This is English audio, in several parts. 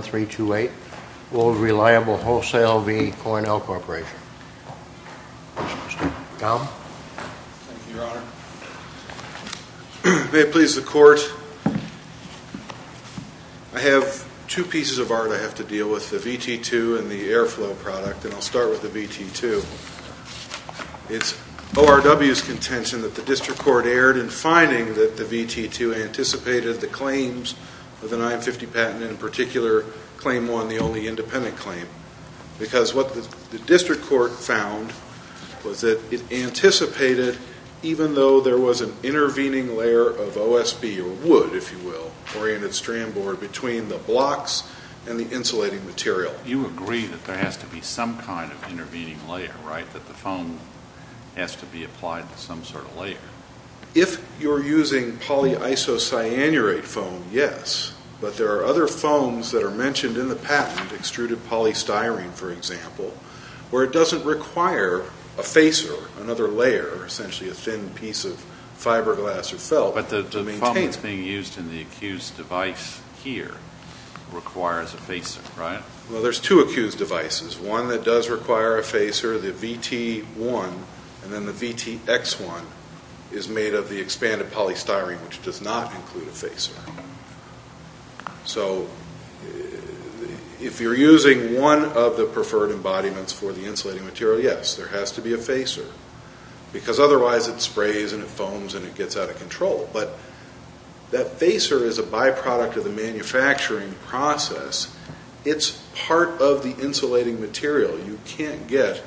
328, Old Reliable Wholesale v. Cornell Corporation. Mr. Baum? Thank you, your honor. May it please the court, I have two pieces of art I have to deal with, the VT2 and the Airflow product, and I'll start with the VT2. It's ORW's contention that the district court erred in finding that the VT2 anticipated the claims of the 950 patent, in particular claim 1, the only independent claim, because what the district court found was that it anticipated, even though there was an intervening layer of OSB, or wood if you will, oriented strand board between the blocks and the insulating material. You agree that there has to be some kind of intervening layer, right? That the foam has to be applied to some sort of layer. If you're using polyisocyanurate foam, yes, but there are other foams that are mentioned in the patent, extruded polystyrene for example, where it doesn't require a facer, another layer, essentially a thin piece of fiberglass or felt to maintain it. But the foam that's being used in the accused device here requires a facer, right? Well, there's two accused devices. One that does require a facer, the VT1, and then the VTX1 is made of the expanded polystyrene, which does not include a facer. So if you're using one of the preferred embodiments for the insulating material, yes, there has to be a facer, because otherwise it sprays and it foams and it gets out of control, but that facer is a byproduct of the manufacturing process. It's part of the insulating material. You can't get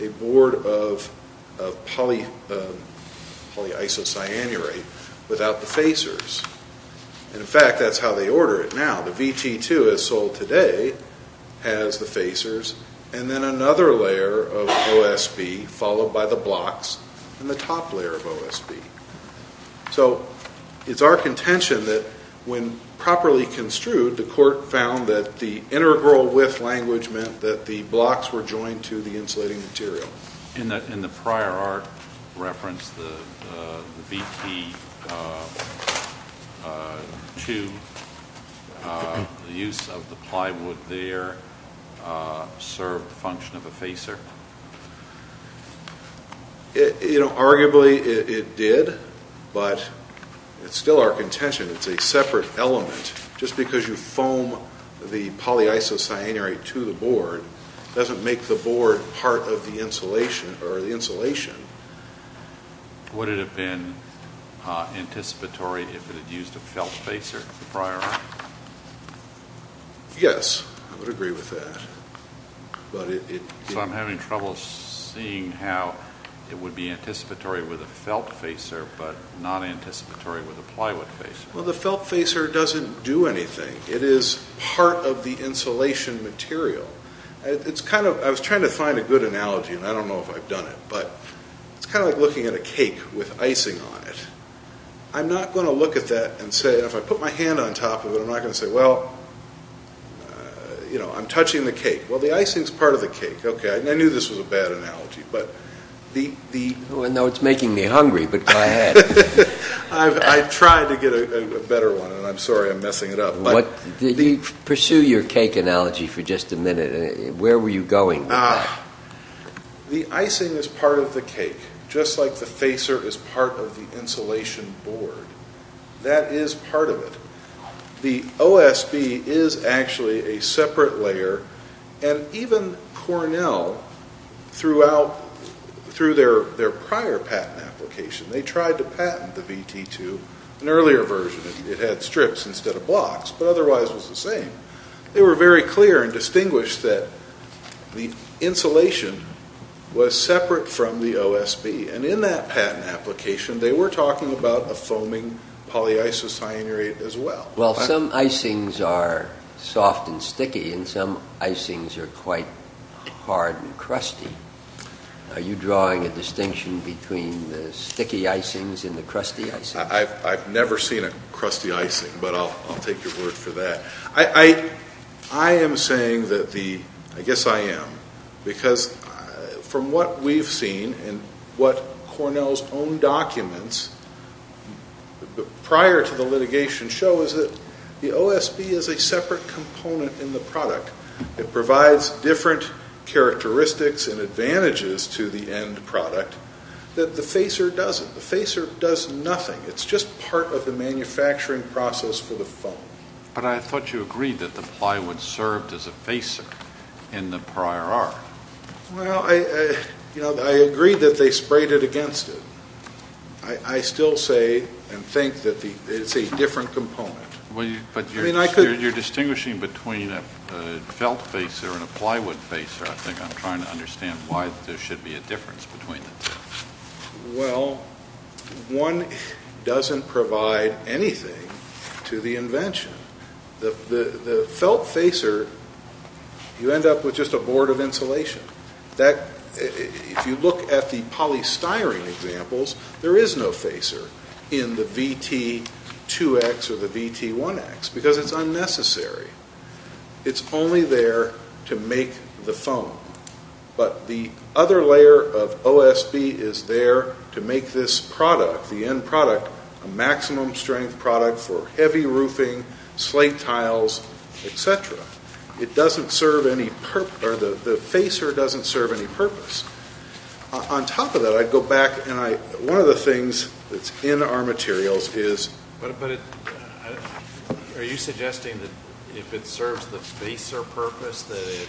a board of polyisocyanurate without the facers. And in fact, that's how they order it now. The VT2 as sold today has the facers and then another layer of OSB followed by the blocks and the top layer of OSB. So it's our contention that when properly construed, the court found that the integral width language meant that the blocks were joined to the insulating material. In the prior art reference, the VT2, the use of the plywood there served the function of a facer? Arguably it did, but it's still our contention. It's a separate element. Just because you add polyisocyanurate to the board, it doesn't make the board part of the insulation. Would it have been anticipatory if it had used a felt facer in the prior art? Yes, I would agree with that. So I'm having trouble seeing how it would be anticipatory with a felt facer, but not anticipatory with a plywood facer. The felt facer doesn't do anything. It is part of the insulation material. I was trying to find a good analogy, and I don't know if I've done it, but it's kind of like looking at a cake with icing on it. I'm not going to look at that and say, if I put my hand on top of it, I'm not going to say, well, I'm touching the cake. Well, the icing's part of the cake. Okay, I knew this was a bad analogy, but the... I'll do a better one, and I'm sorry I'm messing it up. Did you pursue your cake analogy for just a minute? Where were you going with that? The icing is part of the cake, just like the facer is part of the insulation board. That is part of it. The OSB is actually a separate layer, and even Cornell, through their prior patent application, they tried to patent the VT2, an earlier version. It had strips instead of blocks, but otherwise it was the same. They were very clear and distinguished that the insulation was separate from the OSB. In that patent application, they were talking about a foaming polyisocyanate as well. Some icings are soft and sticky, and some icings are quite hard and crusty. Are you making a distinction between the sticky icings and the crusty icings? I've never seen a crusty icing, but I'll take your word for that. I am saying that the... I guess I am, because from what we've seen, and what Cornell's own documents prior to the litigation show, is that the OSB is a separate component in the product. It provides different characteristics and advantages to the end product that the facer doesn't. The facer does nothing. It's just part of the manufacturing process for the foam. But I thought you agreed that the plywood served as a facer in the prior art. Well, I agreed that they sprayed it against it. I still say and think that it's a different component. But you're distinguishing between a felt facer and a plywood facer. I think I'm trying to understand why there should be a difference between the two. Well, one doesn't provide anything to the invention. The felt facer, you end up with just a board of insulation. If you look at the polystyrene examples, there is no facer in the VT2X or the VT1X, because it's unnecessary. It's only there to make the foam. But the other layer of OSB is there to make this product, the end product, a maximum strength product for heavy roofing, slate tiles, etc. The facer doesn't serve any purpose. On top of that, I'd go back and one of the things that's in our materials is... But are you suggesting that if it serves the facer purpose, that it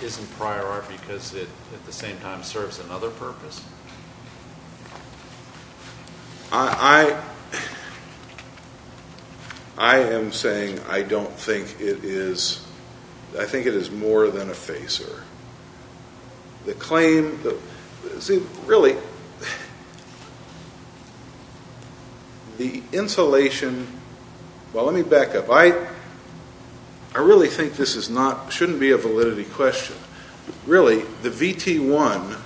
isn't prior art because it at the same time serves another purpose? I am saying I don't think it is. I think it is more than a facer. The insulation... Well, let me back up. I really think this shouldn't be a validity question. Really, the VT1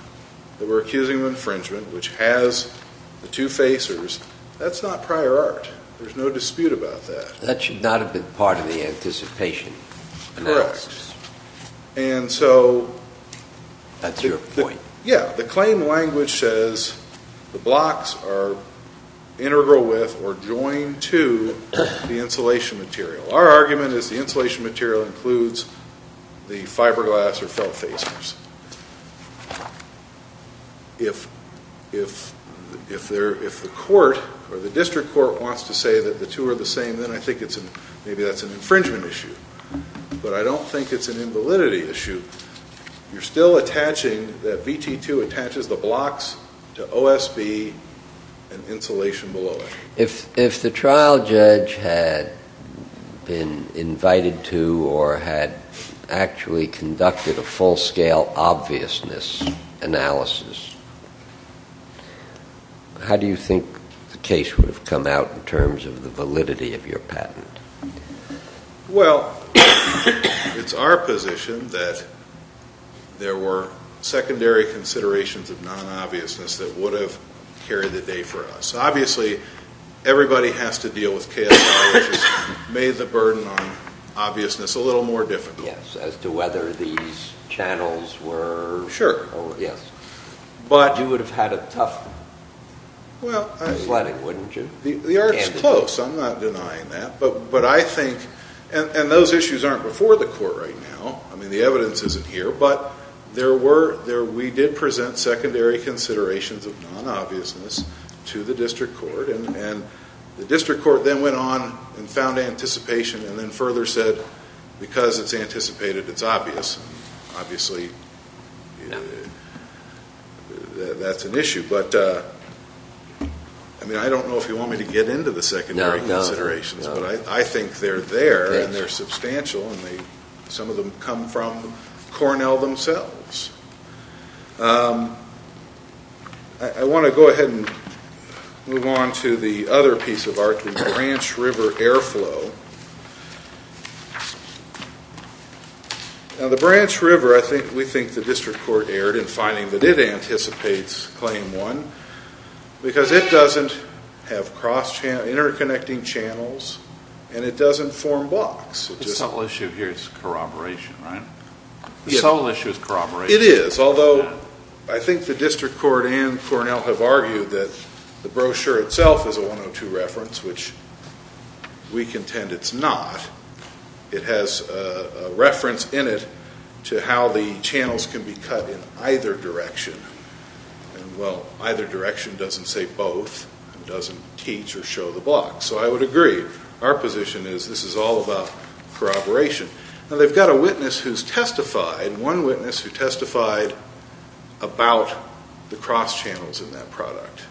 that we're accusing of infringement, which has the two facers, that's not prior art. There's no dispute about that. That should not have been part of the anticipation. Correct. And so... That's your point. Yeah. The claim language says the blocks are integral with or joined to the insulation material. Our argument is the insulation material includes the fiberglass or felt facers. If the court or the district court wants to say that the two are the same, then I think maybe that's an infringement issue. But I don't think it's an invalidity issue. You're still attaching that VT2 attaches the blocks to OSB and insulation below it. If the trial judge had been invited to or had actually conducted a full-scale obviousness analysis, how do you think the case would have come out in terms of the validity of your patent? Well, it's our position that there were secondary considerations of non-obviousness that would have carried the day for us. Obviously, everybody has to deal with KSI, which has made the burden on obviousness a little more difficult. Yes. As to whether these channels were... Sure. You would have had a tough sledding, wouldn't you? The art is close. I'm not denying that. But I think... And those issues aren't before the court right now. I mean, the evidence isn't here. But we did present secondary considerations of non-obviousness to the district court. And the district court then went on and found anticipation and then further said, because it's anticipated, it's obvious. Obviously, that's an issue. But I mean, I don't know if you want me to get into the secondary considerations. No. But I think they're there and they're substantial. And some of them come from Cornell themselves. I want to go ahead and move on to the other piece of art, the Branch River Airflow. Now, the Branch River, we think the district court erred in finding that it anticipates Claim 1 because it doesn't have interconnecting channels and it doesn't form blocks. The sole issue here is corroboration, right? Yes. The sole issue is corroboration. It is, although I think the district court and Cornell have argued that the brochure itself is a 102 reference, which we contend it's not. It has a reference in it to how the channels can be cut in either direction. And, well, either direction doesn't say both and doesn't teach or show the blocks. So I would agree. Our position is this is all about one witness who testified about the cross channels in that product.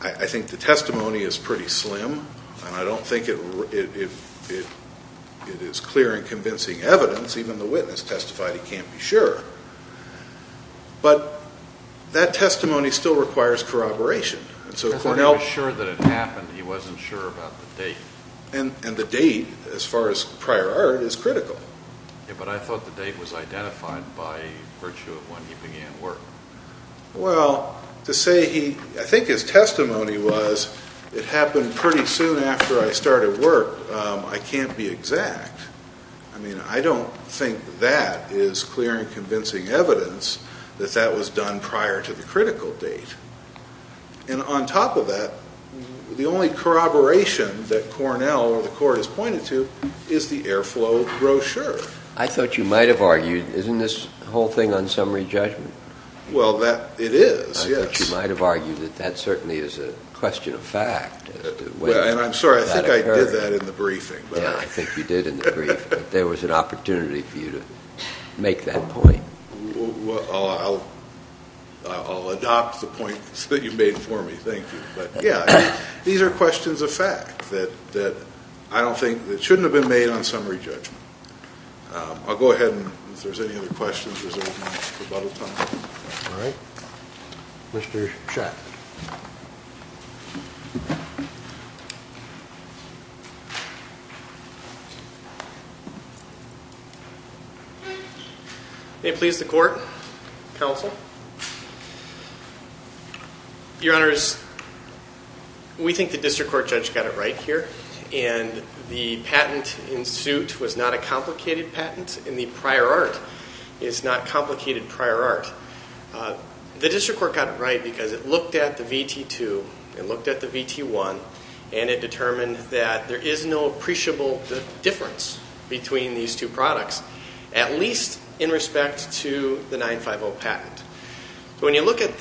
I think the testimony is pretty slim and I don't think it is clear and convincing evidence. Even the witness testified he can't be sure. But that testimony still requires corroboration. He wasn't sure that it happened. He wasn't sure about the date. And the date, as far as prior art, is critical. But I thought the date was identified by virtue of when he began work. Well, to say he, I think his testimony was it happened pretty soon after I started work. I can't be exact. I mean, I don't think that is clear and convincing evidence that that was done prior to the critical date. And on top of that, the only corroboration that Cornell or the court has pointed to is the airflow brochure. I thought you might have argued, isn't this whole thing on summary judgment? Well, it is, yes. I thought you might have argued that that certainly is a question of fact. And I'm sorry, I think I did that in the briefing. Yeah, I think you did in the brief. But there was an opportunity for you to make that point. I'll adopt the points that you made for me, thank you. But yeah, these are questions of fact that I don't think, that shouldn't have been made on summary judgment. I'll go ahead and if there's any other questions, there's a lot of time. All right. Mr. Schatz. May it please the court, counsel? Your Honors, we think the district court judge got it right here. And the patent in suit was not a complicated patent. And the prior art is not complicated prior art. The district court got it right because it looked at the VT-2, it looked at the VT-1, and it determined that there is no appreciable difference between these two products, at least in respect to the 9-5-0 patent. So when you look at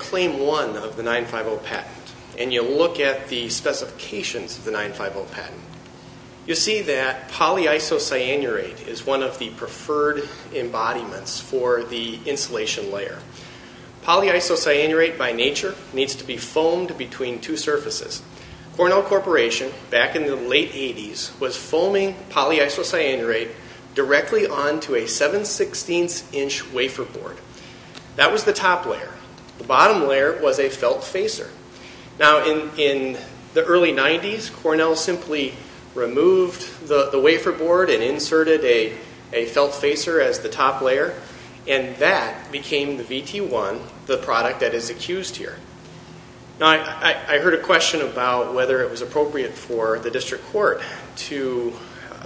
claim one of the 9-5-0 patent, and you look at the specifications of the 9-5-0 patent, you see that polyisocyanurate is one of the preferred embodiments for the insulation layer. Polyisocyanurate, by nature, needs to be foamed between two surfaces. Cornell Corporation, back in the late 80s, was foaming polyisocyanurate directly onto a 7-16 inch wafer board. That was the top layer. The bottom layer was a felt facer. Now, in the early 90s, Cornell simply removed the wafer board and inserted a felt facer as the top layer, and that became the VT-1, the product that is accused here. Now, I heard a question about whether it was appropriate for the district court to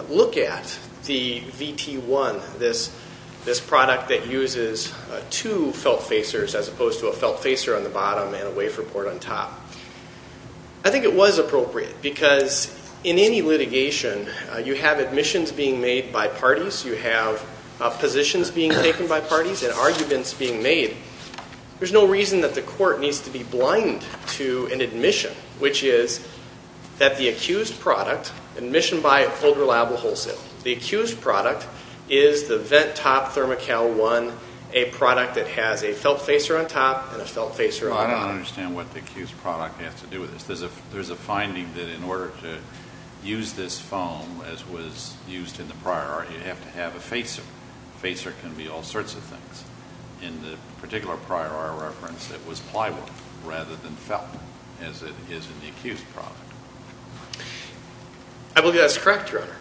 look at the VT-1, this product that uses two felt facers as opposed to a felt facer on the bottom and a wafer board on top. I think it was appropriate because in any litigation, you have admissions being made by parties, you have positions being taken by parties, and arguments being made. There's no reason that the court needs to be blind to an admission, which is that the accused product, admission by older liable wholesale, the accused product is the VT-1, a product that has a felt facer on top and a felt facer on the bottom. I don't understand what the accused product has to do with this. There's a finding that in order to use this foam as was used in the prior art, you have to have a facer. A facer can be all sorts of things. In the particular prior art reference, it was pliable rather than felt, as it is in the accused product. I believe that's correct, Your Honor.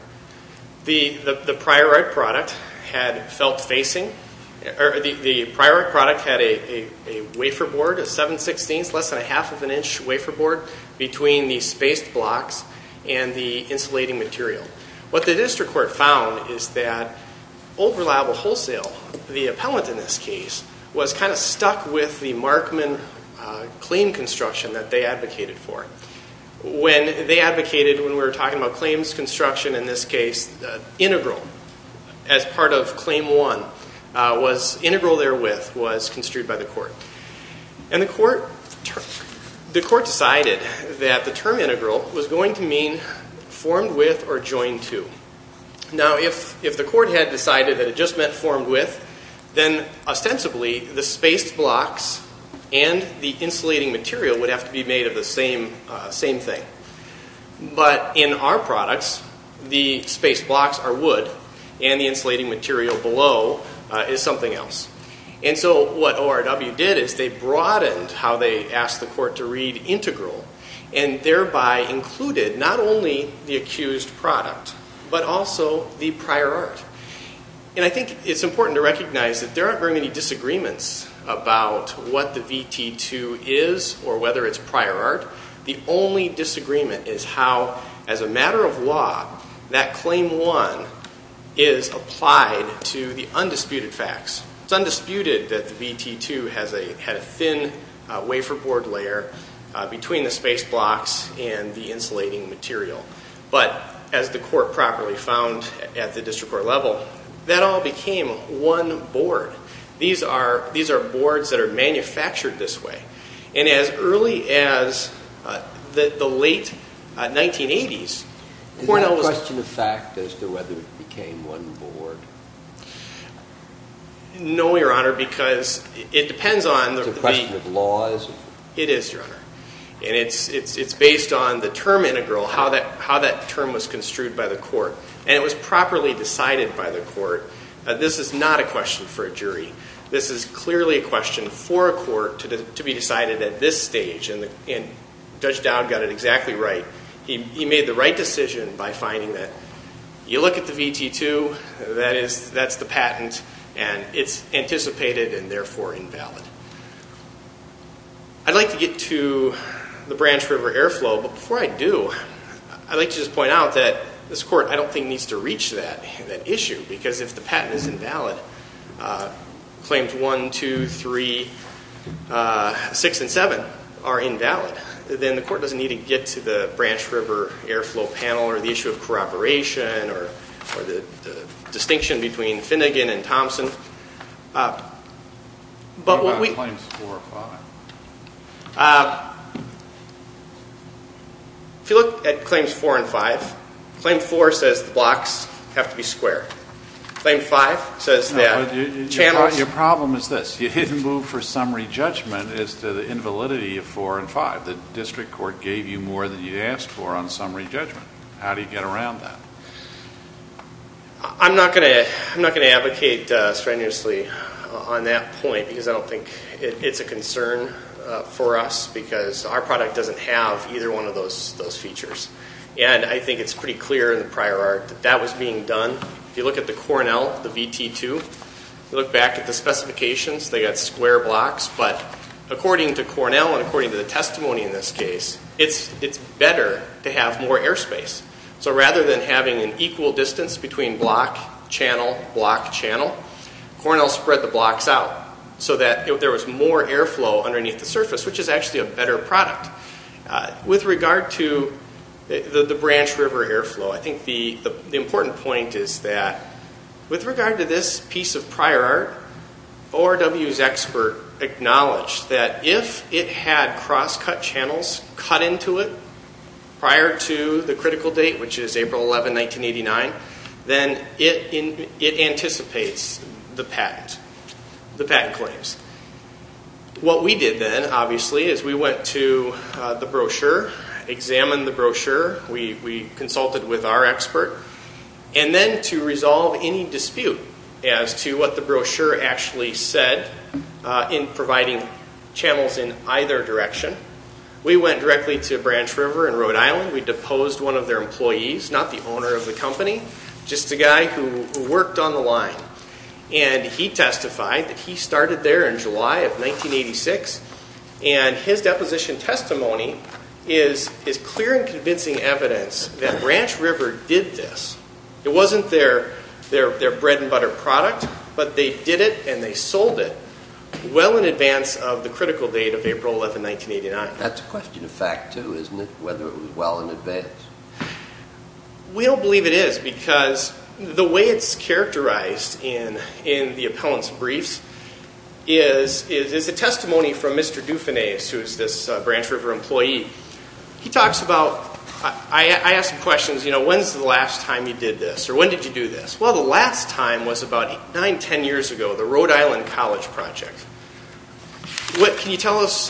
The prior art product had felt facing. The prior art product had a wafer board, a 7-16, less than a half of an inch wafer board, between the spaced blocks and the insulating material. What the district court found is that old liable wholesale, the appellant in this case, was kind of stuck with the Markman claim construction that they advocated for. When they advocated, when we were talking about claims construction in this case, integral, as part of claim one, was integral therewith was construed by the court. And the court decided that the term integral was going to mean formed with or joined to. Now, if the court had decided that it just meant formed with, then ostensibly the spaced blocks and the insulating material would have to be made of the same thing. But in our products, the spaced blocks are wood, and the insulating material below is something else. And so what ORW did is they broadened how they asked the court to read integral and thereby included not only the accused product but also the prior art. And I think it's important to recognize that there aren't very many disagreements about what the VT-2 is or whether it's prior art. The only disagreement is how, as a matter of law, that claim one is applied to the undisputed facts. It's undisputed that the VT-2 had a thin wafer board layer between the spaced blocks and the insulating material. But as the court properly found at the district court level, that all became one board. These are boards that are manufactured this way. And as early as the late 1980s, Cornell was- Is that a question of fact as to whether it became one board? No, Your Honor, because it depends on the- It's a question of law, isn't it? It is, Your Honor. And it's based on the term integral, how that term was construed by the court. And it was properly decided by the court. This is not a question for a jury. This is clearly a question for a court to be decided at this stage. And Judge Dowd got it exactly right. He made the right decision by finding that you look at the VT-2, that's the patent, and it's anticipated and therefore invalid. I'd like to get to the Branch River Airflow, but before I do, I'd like to just point out that this court, I don't think, needs to reach that issue because if the patent is invalid, Claims 1, 2, 3, 6, and 7 are invalid, then the court doesn't need to get to the Branch River Airflow panel or the issue of corroboration or the distinction between Finnegan and Thompson. What about Claims 4 and 5? If you look at Claims 4 and 5, Claim 4 says the blocks have to be square. Claim 5 says the channels. Your problem is this. You didn't move for summary judgment as to the invalidity of 4 and 5. The district court gave you more than you asked for on summary judgment. How do you get around that? I'm not going to advocate strenuously on that point because I don't think it's a concern for us because our product doesn't have either one of those features. And I think it's pretty clear in the prior art that that was being done. If you look at the Cornell, the VT2, look back at the specifications, they got square blocks, but according to Cornell and according to the testimony in this case, it's better to have more airspace. So rather than having an equal distance between block, channel, block, channel, Cornell spread the blocks out so that there was more airflow underneath the surface, which is actually a better product. With regard to the Branch River airflow, I think the important point is that with regard to this piece of prior art, ORW's expert acknowledged that if it had cross-cut channels cut into it prior to the critical date, which is April 11, 1989, then it anticipates the patent claims. What we did then, obviously, is we went to the brochure, examined the brochure. We consulted with our expert. And then to resolve any dispute as to what the brochure actually said in providing channels in either direction, we went directly to Branch River in Rhode Island. We deposed one of their employees, not the owner of the company, just a guy who worked on the line. And he testified that he started there in July of 1986. And his deposition testimony is clear and convincing evidence that Branch River did this. It wasn't their bread-and-butter product, but they did it and they sold it well in advance of the critical date of April 11, 1989. That's a question of fact, too, isn't it, whether it was well in advance? We don't believe it is because the way it's characterized in the appellant's briefs is a testimony from Mr. Dufanese, who is this Branch River employee. He talks about, I asked him questions, you know, when's the last time you did this or when did you do this? Well, the last time was about 9, 10 years ago, the Rhode Island College Project. Can you tell us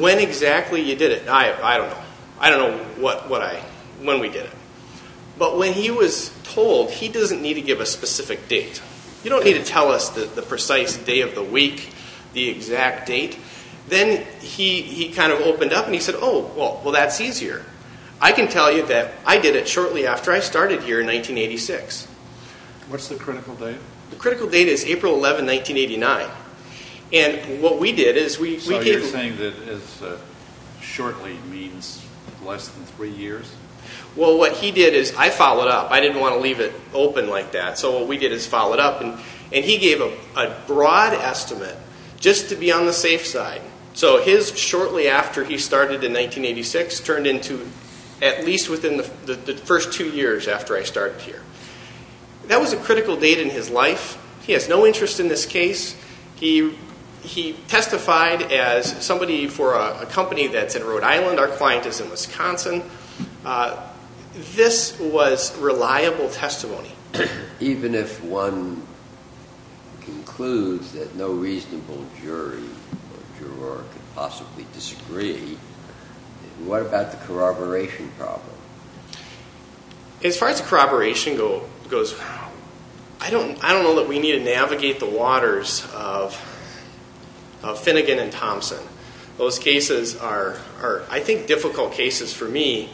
when exactly you did it? I don't know. I don't know when we did it. But when he was told, he doesn't need to give a specific date. You don't need to tell us the precise day of the week, the exact date. Then he kind of opened up and he said, oh, well, that's easier. I can tell you that I did it shortly after I started here in 1986. What's the critical date? The critical date is April 11, 1989. And what we did is we gave him… So you're saying that shortly means less than three years? Well, what he did is I followed up. I didn't want to leave it open like that, so what we did is follow it up. And he gave a broad estimate just to be on the safe side. So his shortly after he started in 1986 turned into at least within the first two years after I started here. That was a critical date in his life. He has no interest in this case. He testified as somebody for a company that's in Rhode Island. Our client is in Wisconsin. This was reliable testimony. Even if one concludes that no reasonable jury or juror could possibly disagree, what about the corroboration problem? As far as corroboration goes, I don't know that we need to navigate the waters of Finnegan and Thompson. Those cases are, I think, difficult cases for me.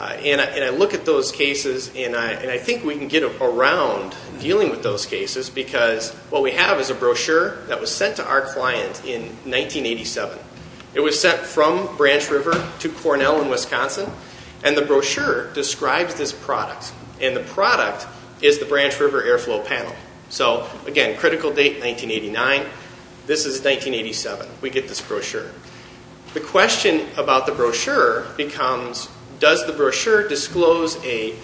And I look at those cases, and I think we can get around dealing with those cases because what we have is a brochure that was sent to our client in 1987. It was sent from Branch River to Cornell in Wisconsin. And the brochure describes this product. And the product is the Branch River Airflow Panel. So, again, critical date, 1989. This is 1987. We get this brochure. The question about the brochure becomes, does the brochure disclose a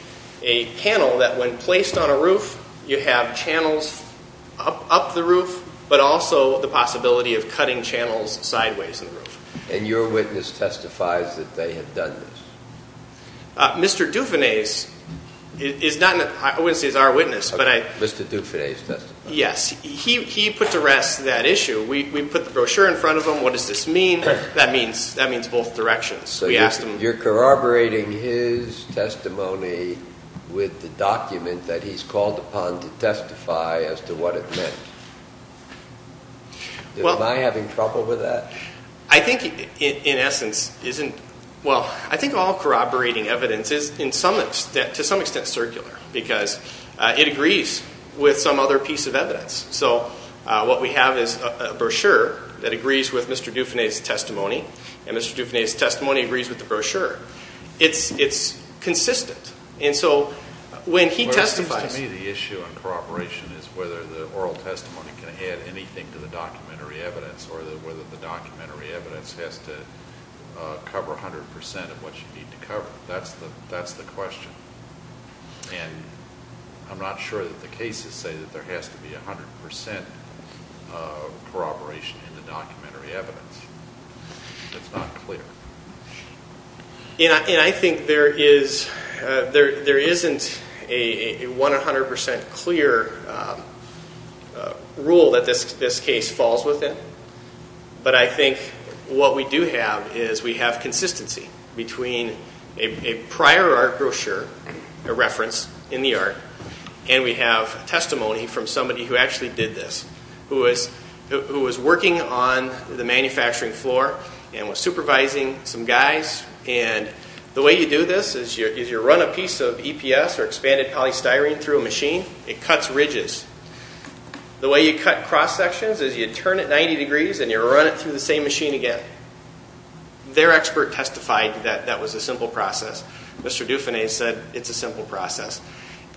panel that when placed on a roof, you have channels up the roof but also the possibility of cutting channels sideways in the roof? And your witness testifies that they have done this? Mr. Dufanese is not in the – I wouldn't say he's our witness, but I – Mr. Dufanese testified? Yes. He put to rest that issue. We put the brochure in front of him. What does this mean? That means both directions. So you're corroborating his testimony with the document that he's called upon to testify as to what it meant? Am I having trouble with that? I think, in essence, isn't – well, I think all corroborating evidence is, to some extent, circular because it agrees with some other piece of evidence. So what we have is a brochure that agrees with Mr. Dufanese's testimony, and Mr. Dufanese's testimony agrees with the brochure. It's consistent. And so when he testifies – Well, it seems to me the issue on corroboration is whether the oral testimony can add anything to the documentary evidence or whether the documentary evidence has to cover 100% of what you need to cover. That's the question. And I'm not sure that the cases say that there has to be 100% corroboration in the documentary evidence. That's not clear. And I think there isn't a 100% clear rule that this case falls within. But I think what we do have is we have consistency between a prior art brochure, a reference in the art, and we have testimony from somebody who actually did this, who was working on the manufacturing floor and was supervising some guys. And the way you do this is you run a piece of EPS or expanded polystyrene through a machine. It cuts ridges. The way you cut cross-sections is you turn it 90 degrees and you run it through the same machine again. Their expert testified that that was a simple process. Mr. Dufanese said it's a simple process.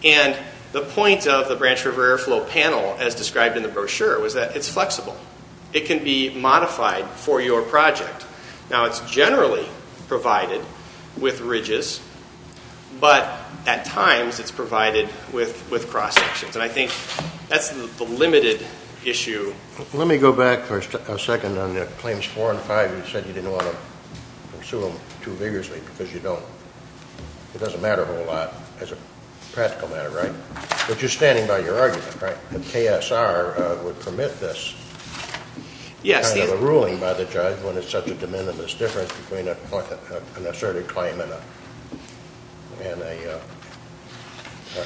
And the point of the Branch River Airflow panel as described in the brochure was that it's flexible. It can be modified for your project. Now, it's generally provided with ridges, but at times it's provided with cross-sections. And I think that's the limited issue. Let me go back for a second on the claims four and five. You said you didn't want to pursue them too vigorously because you don't. It doesn't matter a whole lot as a practical matter, right? But you're standing by your argument, right, that KSR would permit this kind of a ruling by the judge when it's such a de minimis difference between an asserted claim and a,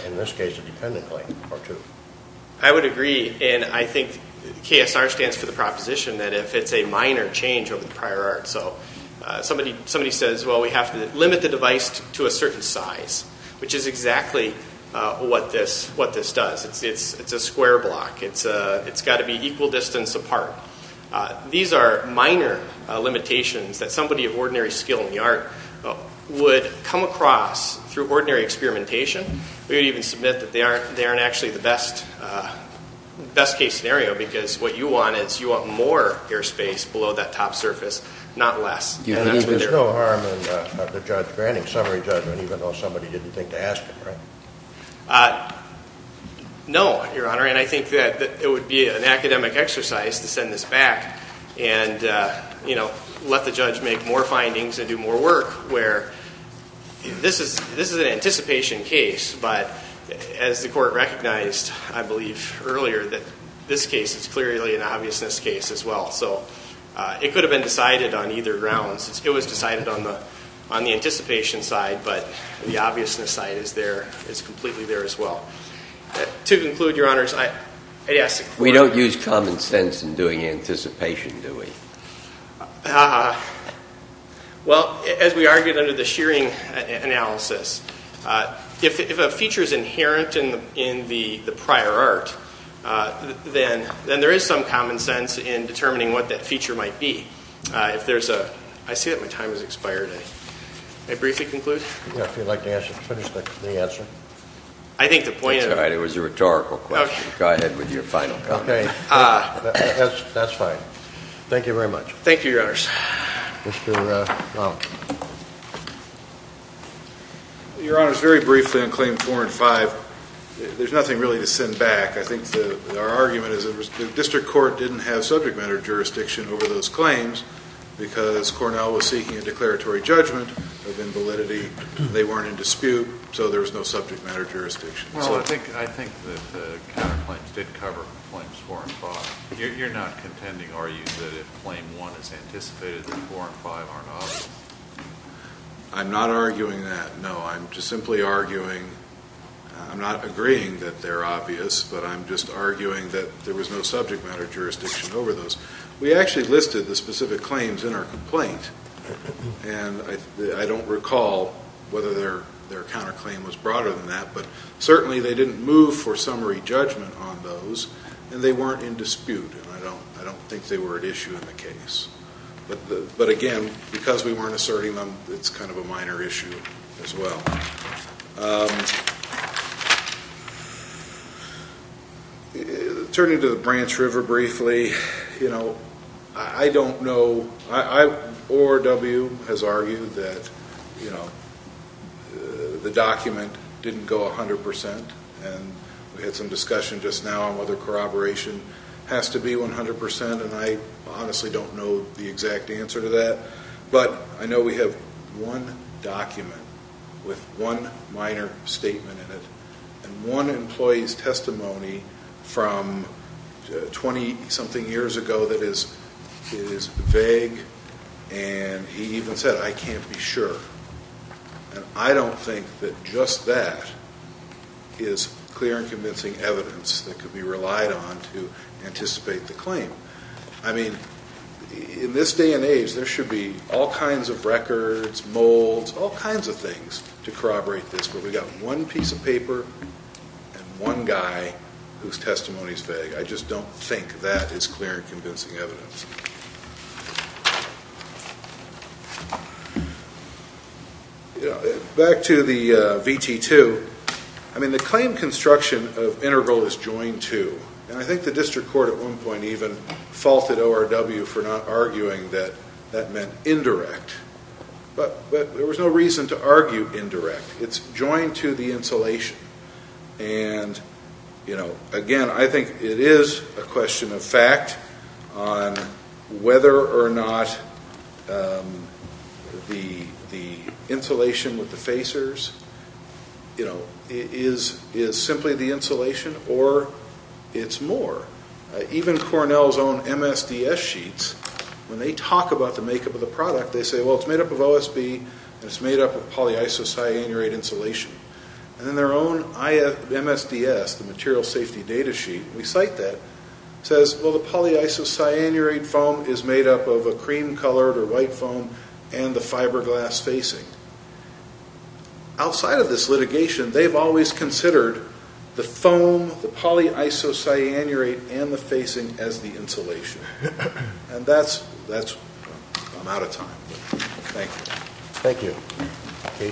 in this case, a dependent claim or two. I would agree, and I think KSR stands for the proposition that if it's a minor change over the prior art. So somebody says, well, we have to limit the device to a certain size, which is exactly what this does. It's a square block. It's got to be equal distance apart. These are minor limitations that somebody of ordinary skill in the art would come across through ordinary experimentation. We would even submit that they aren't actually the best case scenario because what you want is you want more airspace below that top surface, not less. You believe there's no harm in the judge granting summary judgment even though somebody didn't think to ask it, right? No, Your Honor, and I think that it would be an academic exercise to send this back and let the judge make more findings and do more work where this is an anticipation case, but as the court recognized, I believe, earlier, that this case is clearly an obviousness case as well. So it could have been decided on either grounds. It was decided on the anticipation side, but the obviousness side is there, is completely there as well. To conclude, Your Honors, I'd ask the court. We don't use common sense in doing anticipation, do we? Well, as we argued under the shearing analysis, if a feature is inherent in the prior art, then there is some common sense in determining what that feature might be. I see that my time has expired. May I briefly conclude? Yeah, if you'd like to finish the answer. I think the point of it was a rhetorical question. Go ahead with your final comment. That's fine. Thank you very much. Thank you, Your Honors. Mr. Lomach. Your Honors, very briefly on Claims 4 and 5, there's nothing really to send back. I think our argument is that the district court didn't have subject matter jurisdiction over those claims because Cornell was seeking a declaratory judgment of invalidity. They weren't in dispute, so there was no subject matter jurisdiction. Well, I think that the counterclaims did cover Claims 4 and 5. You're not contending, are you, that if Claim 1 is anticipated that 4 and 5 aren't obvious? I'm not arguing that, no. I'm just simply arguing, I'm not agreeing that they're obvious, but I'm just arguing that there was no subject matter jurisdiction over those. We actually listed the specific claims in our complaint, and I don't recall whether their counterclaim was broader than that, but certainly they didn't move for summary judgment on those, and they weren't in dispute, and I don't think they were an issue in the case. But again, because we weren't asserting them, it's kind of a minor issue as well. Turning to the Branch River briefly, I don't know. ORW has argued that the document didn't go 100 percent, and we had some discussion just now on whether corroboration has to be 100 percent, and I honestly don't know the exact answer to that. But I know we have one document with one minor statement in it and one employee's testimony from 20-something years ago that is vague, and he even said, I can't be sure. And I don't think that just that is clear and convincing evidence that could be relied on to anticipate the claim. I mean, in this day and age, there should be all kinds of records, molds, all kinds of things to corroborate this, but we've got one piece of paper and one guy whose testimony is vague. I just don't think that is clear and convincing evidence. Back to the VT-2. I mean, the claim construction of integral is joined to, and I think the district court at one point even faulted ORW for not arguing that that meant indirect. But there was no reason to argue indirect. It's joined to the insulation. And again, I think it is a question of fact on whether or not the insulation with the facers is simply the insulation or it's more. Even Cornell's own MSDS sheets, when they talk about the makeup of the product, they say, well, it's made up of OSB and it's made up of polyisocyanurate insulation. And in their own MSDS, the material safety data sheet, we cite that. It says, well, the polyisocyanurate foam is made up of a cream-colored or white foam and the fiberglass facing. Outside of this litigation, they've always considered the foam, the polyisocyanurate, and the facing as the insulation. And that's, I'm out of time. Thank you. Thank you.